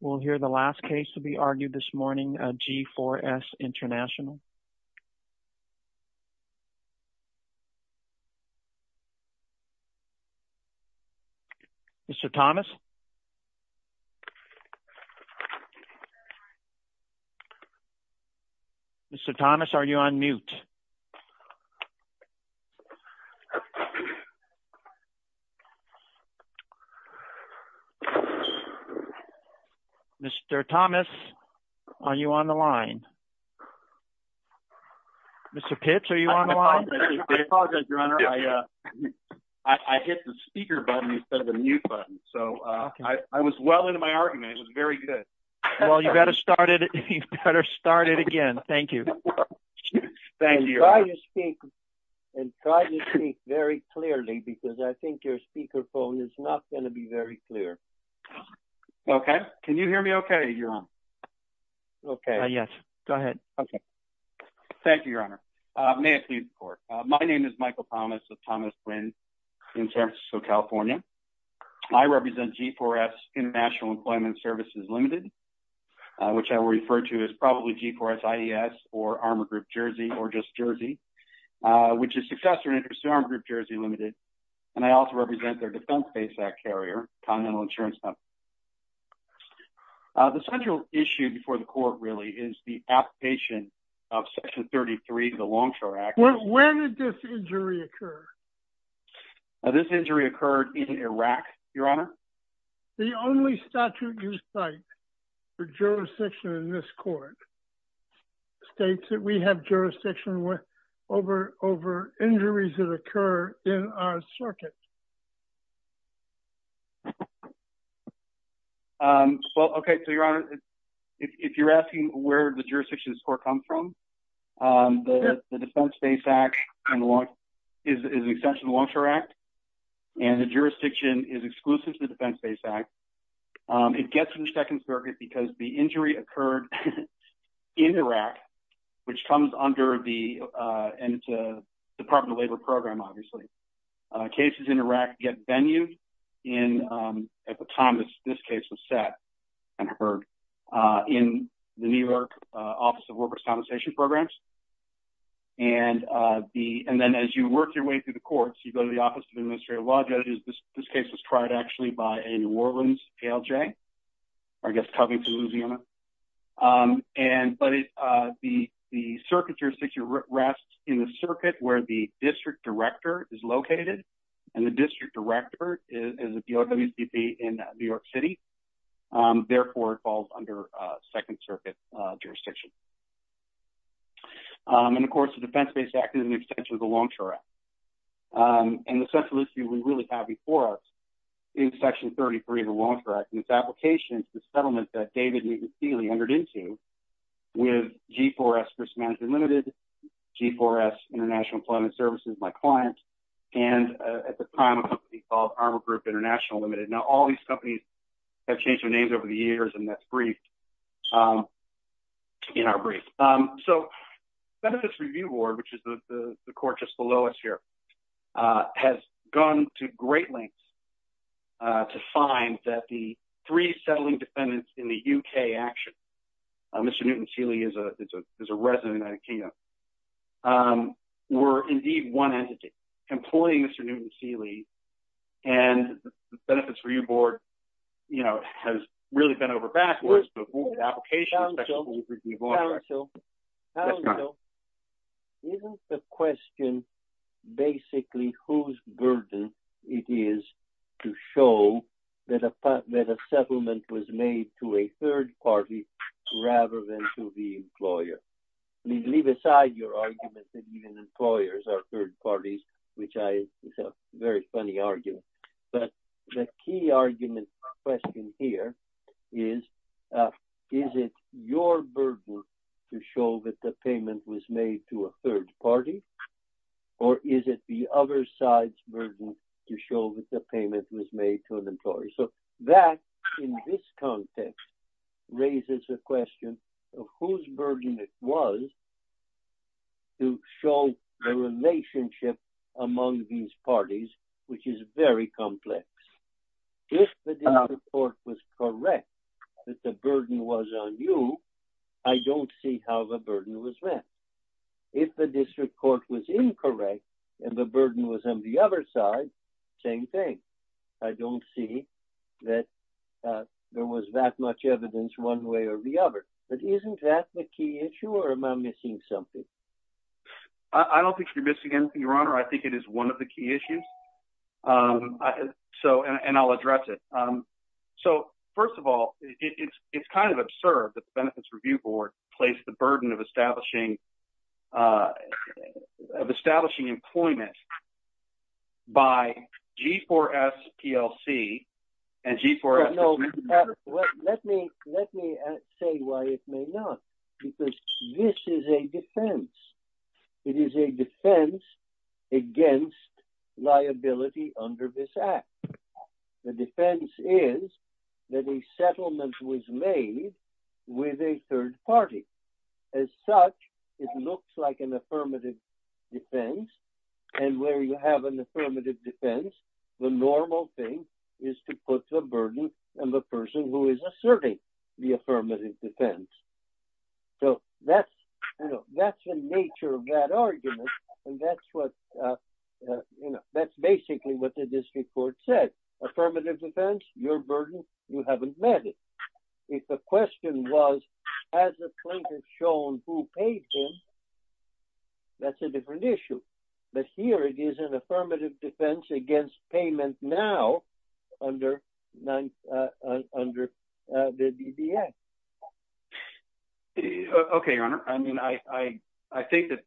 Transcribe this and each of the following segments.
We'll hear the last case to be argued this morning, G4S International. Mr. Thomas? Mr. Thomas, are you on mute? Mr. Thomas, are you on the line? Mr. Pitts, are you on the line? I apologize, Your Honor. I hit the speaker button instead of the mute button. So I was well into my argument. It was very good. Well, you better start it again. Thank you. Thank you. And try to speak very clearly because I think your speakerphone is not going to be very clear. Okay. Can you hear me okay, Your Honor? Okay. Yes. Go ahead. Okay. Thank you, Your Honor. May I please report? My name is Michael Thomas of Thomas Wynn in San Francisco, California. I represent G4S International Employment Services Limited, which I will refer to as probably G4S IES or Armor Group Jersey or just Jersey, which is successor interest to Armor Group Jersey Limited. And I also represent their Defense Base Act carrier, Continental Insurance Company. The central issue before the court really is the application of Section 33 of the Longshore Act. When did this injury occur? This injury occurred in Iraq, Your Honor. The only statute you cite for jurisdiction in this court states that we have jurisdiction over injuries that occur in our circuit. Well, okay. So, Your Honor, if you're asking where the jurisdiction score comes from, the Defense Base Act is an extension of the Longshore Act, and the jurisdiction is exclusive to the Defense Base Act. It gets in the Second Circuit because the injury occurred in Iraq, which comes under the Department of Labor program, obviously. Cases in Iraq get venued at the time this case was set and heard in the New York Office of Workers' Compensation Programs. And then as you work your way through the courts, you go to the Office of Administrative Law Judges. This case was tried, actually, by a New Orleans ALJ, or I guess Covington, Louisiana. But the circuit jurisdiction rests in the circuit where the district director is located, and the district director is a DOWCP in New York City. Therefore, it falls under Second Circuit jurisdiction. And, of course, the Defense Base Act is an extension of the Longshore Act. And the central issue we really have before us is Section 33 of the Longshore Act, and its application to the settlement that David Newton Steele entered into with G4S Risk Management Limited, G4S International Employment Services, my client, and at the time, a company called Armor Group International Limited. Now, all these companies have changed their names over the years, and that's briefed. So, Benefits Review Board, which is the court just below us here, has gone to great lengths to find that the three settling defendants in the UK action, Mr. Newton Steele is a resident of the United Kingdom, were indeed one entity, employing Mr. Newton Steele, and the Benefits Review Board, you know, has really been over-baffled as to the application. Counsel, Counsel, Counsel, isn't the question basically whose burden it is to show that a settlement was made to a third party rather than to the employer? Leave aside your argument that even employers are third parties, which is a very funny argument. But the key argument or question here is, is it your burden to show that the payment was made to a third party, or is it the other side's burden to show that the payment was made to an employer? So, that, in this context, raises a question of whose burden it was to show the relationship among these parties, which is very complex. If the district court was correct that the burden was on you, I don't see how the burden was met. If the district court was incorrect, and the burden was on the other side, same thing. I don't see that there was that much evidence one way or the other. But isn't that the key issue, or am I missing something? I don't think you're missing anything, Your Honor. I think it is one of the key issues. So, and I'll address it. So, first of all, it's kind of absurd that the Benefits Review Board placed the burden of establishing employment by G4S PLC and G4S... Let me say why it may not, because this is a defense. It is a defense against liability under this act. The defense is that a settlement was made with a third party. As such, it looks like an affirmative defense, and where you have an affirmative defense, the normal thing is to put the burden on the person who is asserting the affirmative defense. So that's, you know, that's the nature of that argument. And that's what, you know, that's basically what the district court said. Affirmative defense, your burden, you haven't met it. If the question was, has the plaintiff shown who paid him? That's a different issue. But here it is an affirmative defense against payment now under the DDS. Okay, Your Honor. I mean, I think that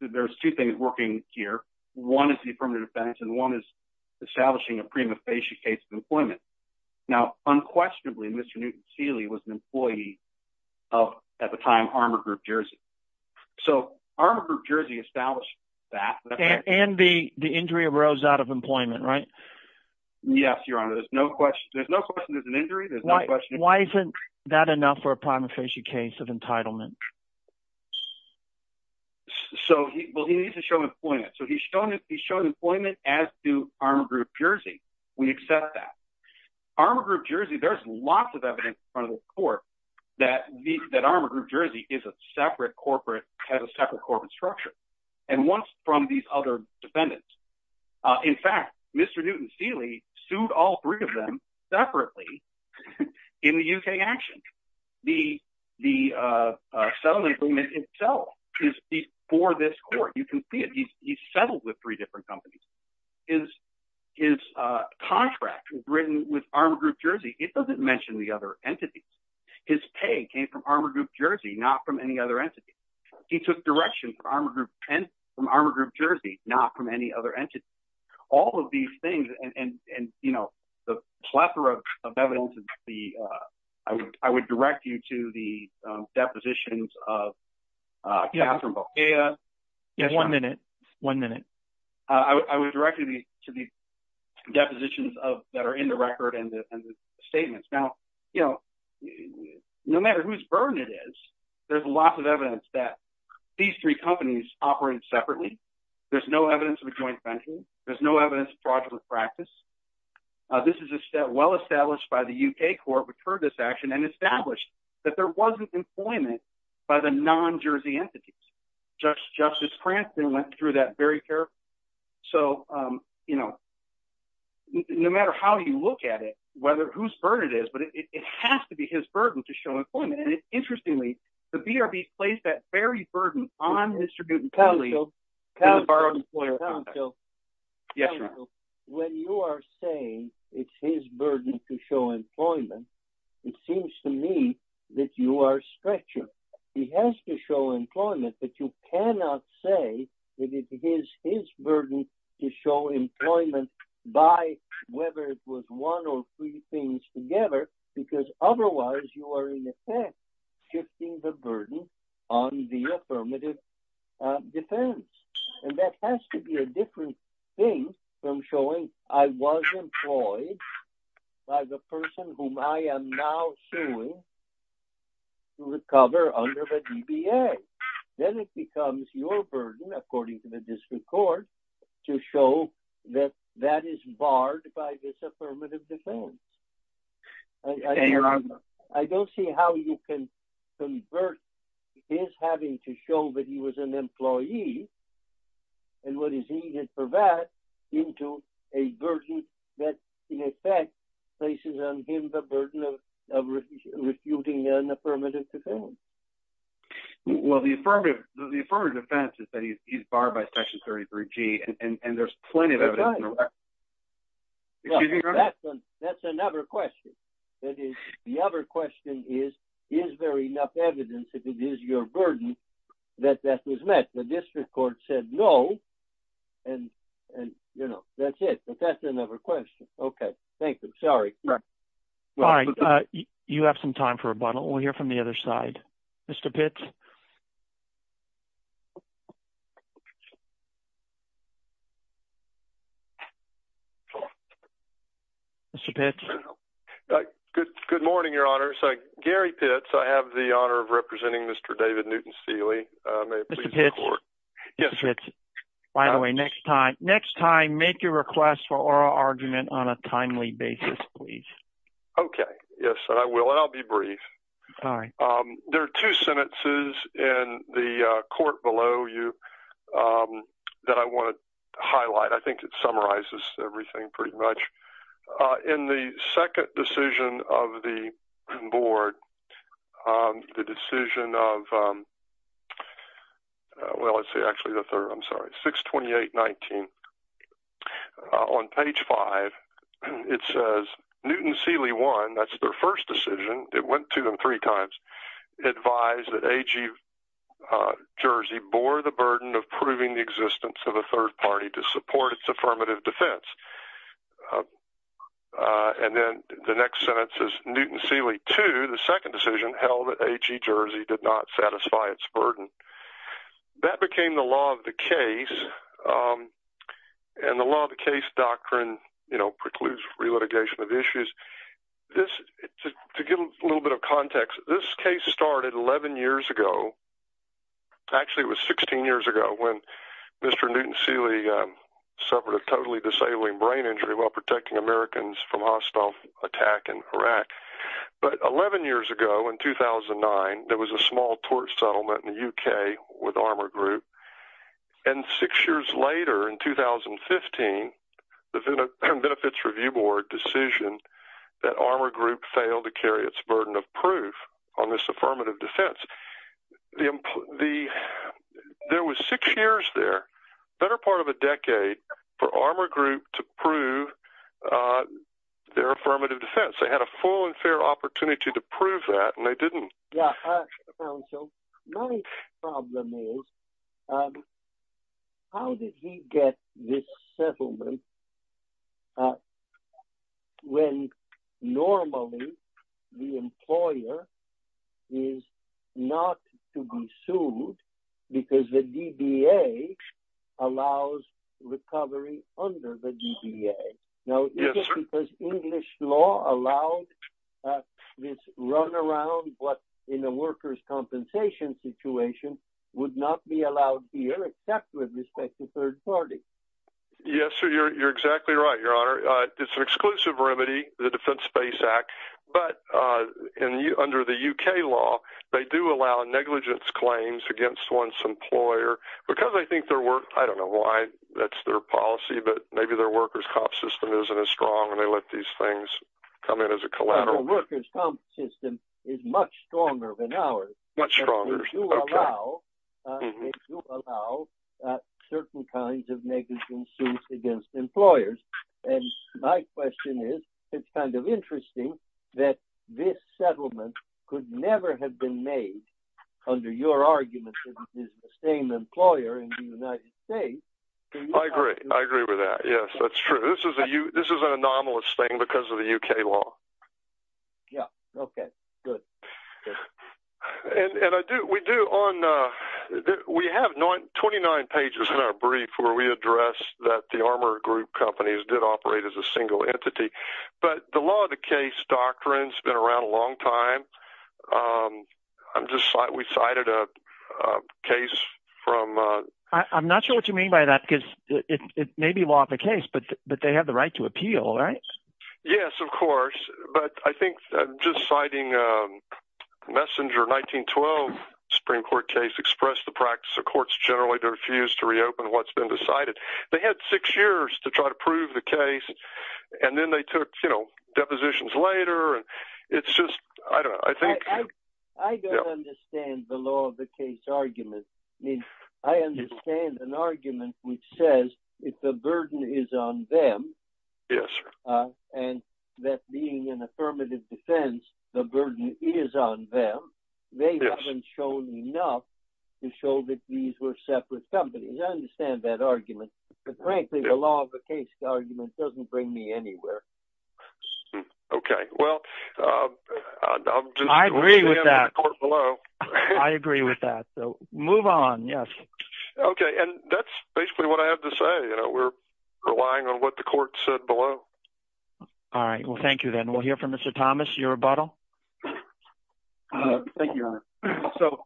there's two things working here. One is the affirmative defense, and one is establishing a prima facie case of employment. Now, unquestionably, Mr. Newton Seeley was an employee of, at the time, Armour Group Jersey. So Armour Group Jersey established that. And the injury arose out of employment, right? Yes, Your Honor. There's no question there's an injury. Why isn't that enough for a prima facie case of entitlement? So, well, he needs to show employment. So he's shown employment as to Armour Group Jersey. We accept that. Armour Group Jersey, there's lots of evidence in front of the court that Armour Group Jersey is a separate corporate, has a separate corporate structure. And once from these other defendants. In fact, Mr. Newton Seeley sued all three of them separately in the UK action. The settlement agreement itself is for this court. You can see it. He's settled with three different companies. His contract was written with Armour His pay came from Armour Group Jersey, not from any other entity. He took direction from Armour Group and from Armour Group Jersey, not from any other entity. All of these things and, you know, the plethora of evidence of the, I would direct you to the depositions of Catherine Bow. One minute, one minute. I would direct you to the depositions of that are in the record and the you know, no matter whose burden it is, there's lots of evidence that these three companies operate separately. There's no evidence of a joint venture. There's no evidence of fraudulent practice. This is a set well established by the UK court, which heard this action and established that there wasn't employment by the non-Jersey entities. Justice Cranston went through that very carefully. So, you know, no matter how you look at it, whether whose burden it is, but it has to be his burden to show employment. Interestingly, the BRB placed that very burden on Mr. Guttentagli. When you are saying it's his burden to show employment, it seems to me that you are stretching. He has to show employment, but you cannot say that it is his burden to show employment by whether it was one or three things together, because otherwise you are in effect shifting the burden on the affirmative defense. And that has to be a different thing from showing I was employed by the person whom I am now suing to recover under the DBA. Then it becomes your burden, according to the district court, to show that that is barred by this affirmative defense. I don't see how you can convert his having to show that he was an employee and what is needed for that into a burden that in affirmative defense. The affirmative defense is that he is barred by Section 33G. That's another question. The other question is, is there enough evidence that it is your burden that that was met? The district court said no. That's it. That's another question. Okay. Thank you. Sorry. All right. You have some time for rebuttal. We'll hear from the other side. Mr. Pitts? Mr. Pitts? Good morning, Your Honor. Gary Pitts. I have the honor of representing Mr. David Newton-Seeley. Mr. Pitts? Yes, sir. By the way, next time make your request for oral argument on a timely basis, please. Okay. Yes, I will. I'll be brief. All right. There are two sentences in the court below you that I want to highlight. I think it summarizes everything pretty much. In the second decision of the board, the decision of, well, let's see, actually the it says Newton-Seeley I, that's their first decision, it went to them three times, advised that A.G. Jersey bore the burden of proving the existence of a third party to support its affirmative defense. And then the next sentence is Newton-Seeley II, the second decision, held that A.G. Jersey did not satisfy its burden. That became the law of the case, and the law of the case doctrine, you know, precludes re-litigation of issues. This, to give a little bit of context, this case started 11 years ago. Actually, it was 16 years ago when Mr. Newton-Seeley suffered a totally disabling brain injury while protecting Americans from hostile attack in Iraq. But 11 years ago, in 2009, there was a small tort settlement in the UK with Armor Group. And six years later, in 2015, the Benefits Review Board decision that Armor Group failed to carry its burden of proof on this affirmative defense. There was six years there, better part of a decade, for Armor Group to prove their affirmative defense. They had a full and fair opportunity to prove that, and they didn't. Yeah. Counsel, my problem is, how did he get this settlement when normally the employer is not to be sued because the DBA allows recovery under the DBA? Now, is it because English law allowed this runaround, but in a workers' compensation situation, would not be allowed here except with respect to third parties? Yes, sir. You're exactly right, Your Honor. It's an exclusive remedy, the Defense Space Act, but under the UK law, they do allow negligence claims against one's employer because I think their work, I don't know why that's their policy, but maybe their workers' comp system isn't as strong and they let these things come in as a collateral. The workers' comp system is much stronger than ours. Much stronger, okay. They do allow certain kinds of negligence suits against employers. And my question is, it's kind of interesting that this settlement could never have been made under your argument that it's the same employer in the United States. I agree. I agree with that. Yes, that's true. This is an anomalous thing because of the UK law. Yeah. Okay. Good. And we do on, we have 29 pages in our brief where we address that the Armour Group companies did operate as a single entity. But the law of the case doctrine's been around a long time. I'm just, we cited a case from... I'm not sure what you mean by that because it may be law of the case, but they have the right to appeal, right? Yes, of course. But I think just citing a Messenger 1912 Supreme Court case, expressed the practice of courts generally to refuse to reopen what's been decided. They had six years to try to prove the case and then they took depositions later. It's just, I don't know. I think... I don't understand the law of the case argument. I mean, I understand an argument which says if the burden is on them, and that being an affirmative defense, the burden is on them, they haven't shown enough to show that these were separate companies. I understand that argument. But frankly, the law of the case argument doesn't bring me anywhere. Hmm. Okay. Well, I'll just... I agree with that. I agree with that. So move on. Yes. Okay. And that's basically what I have to say. We're relying on what the court said below. All right. Well, thank you then. We'll hear from Mr. Thomas, your rebuttal. Thank you, Your Honor. So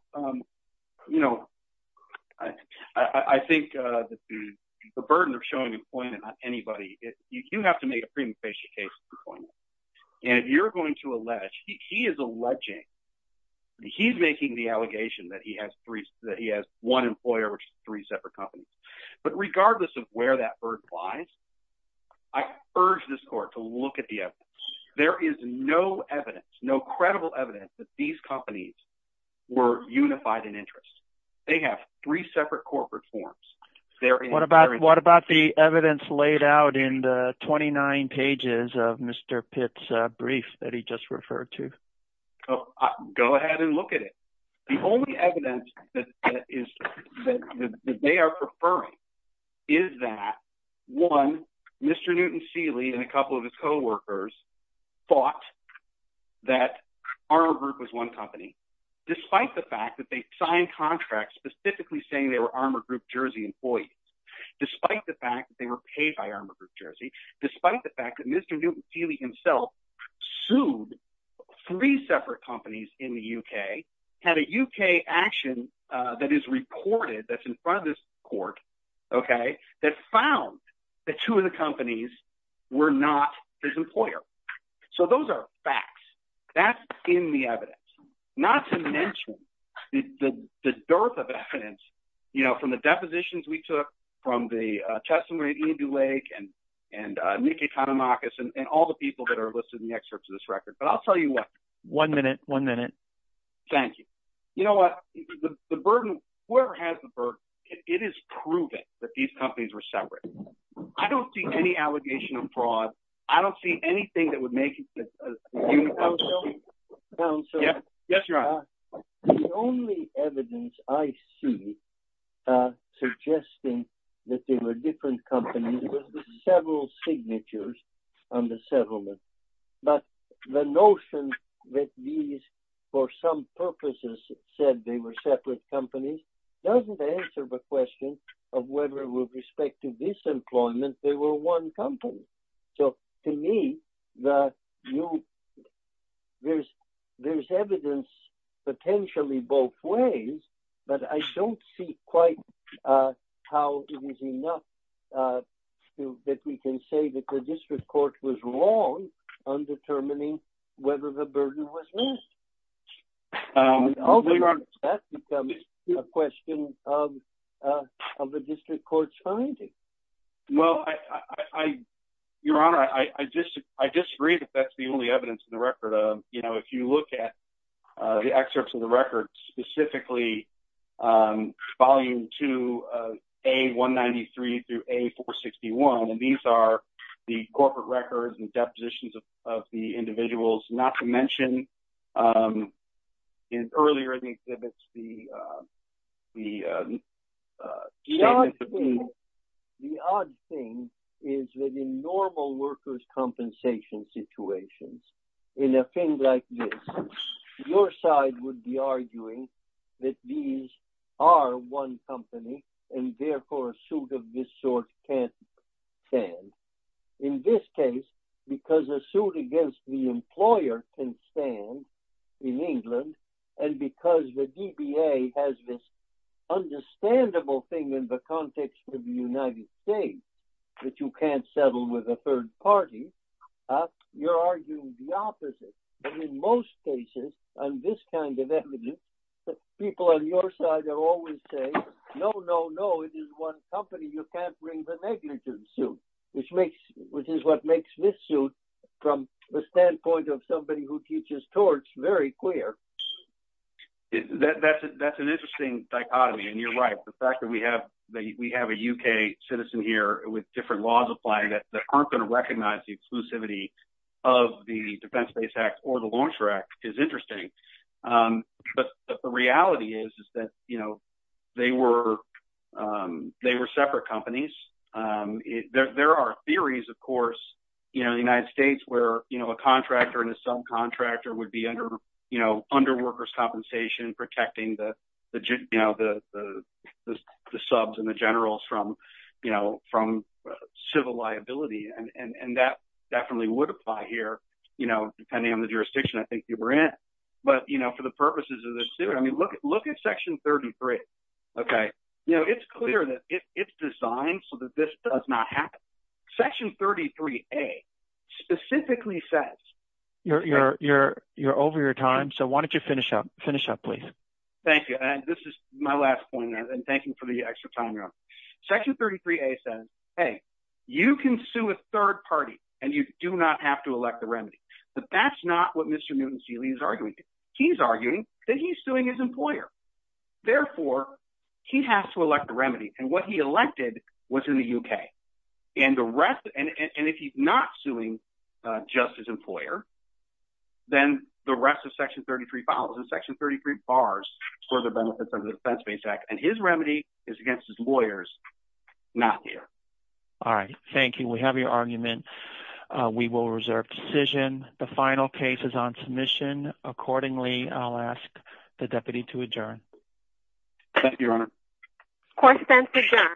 I think the burden of showing employment on anybody, you have to make a premonition case for employment. And if you're going to allege, he is alleging, he's making the allegation that he has one employer, which is three separate companies. But regardless of where that burden lies, I urge this court to look at the evidence. There is no evidence, no credible evidence that these companies were unified in interest. They have three separate corporate forms. What about the evidence laid out in the 29 pages of Mr. Pitt's brief that he just referred to? Go ahead and look at it. The only evidence that they are preferring is that, one, Mr. Newton Seeley and a couple of his coworkers thought that Armour Group was one company, despite the fact they signed contracts specifically saying they were Armour Group Jersey employees, despite the fact they were paid by Armour Group Jersey, despite the fact that Mr. Newton Seeley himself sued three separate companies in the UK, had a UK action that is reported, that's in front of this court, that found that two of the companies were not his employer. So those are facts. That's in the evidence, not to mention the dearth of evidence, you know, from the depositions we took from the testimony of Ian Dulake and Nikki Kanamakis and all the people that are listed in the excerpts of this record. But I'll tell you what. One minute, one minute. Thank you. You know what? The burden, whoever has the burden, it is proven that these companies were separate. I don't see any allegation of fraud. I don't see anything that would make it as... Yes, you're on. The only evidence I see suggesting that they were different companies with several signatures on the settlement, but the notion that these, for some purposes, said they were separate companies doesn't answer the question of whether, with respect to disemployment, they were one company. So to me, there's evidence potentially both ways, but I don't see quite how it is enough that we can say that the district court was wrong on determining whether the burden was raised. That becomes a question of the district court's finding. Well, Your Honor, I disagree that that's the only evidence in the record. You know, if you look at the excerpts of the record, specifically volume two, A193 through A461, these are the corporate records and depositions of the individuals, not to mention earlier in the exhibits, the... The odd thing is that in normal workers' compensation situations, in a thing like this, your side would be arguing that these are one company, and therefore a suit of this sort can't stand. In this case, because a suit against the employer can stand in England, and because the DBA has this understandable thing in the context of the United States that you can't settle with a third party, you're arguing the opposite. But in most cases, on this kind of evidence, people on your side are always saying, no, no, no, it is one company, you can't bring the suit, which is what makes this suit, from the standpoint of somebody who teaches torts, very clear. That's an interesting dichotomy, and you're right. The fact that we have a UK citizen here with different laws applying that aren't going to recognize the exclusivity of the Defense Base Act or the Launcher Act is interesting. But the reality is that, you know, they were separate companies. There are theories, of course, in the United States, where a contractor and a subcontractor would be under workers' compensation, protecting the subs and the generals from civil liability. And that definitely would apply here, depending on the jurisdiction I think you were in. But for the purposes of this suit, I mean, look at Section 33. It's clear that it's designed so that this does not happen. Section 33A specifically says... You're over your time, so why don't you finish up, please. Thank you. And this is my last point, and thank you for the extra time you're on. Section 33A says, hey, you can sue a third party, and you do not have to elect the remedy. But that's not what Mr. Newton-Seeley is arguing. He's arguing that he's suing his employer. Therefore, he has to elect what's in the UK. And if he's not suing just his employer, then the rest of Section 33 follows. And Section 33 bars for the benefits of the Defense-Based Act, and his remedy is against his lawyers not here. All right. Thank you. We have your argument. We will reserve decision. The final case is on submission. Accordingly, I'll ask the deputy to adjourn. Thank you, Your Honor. Court is adjourned.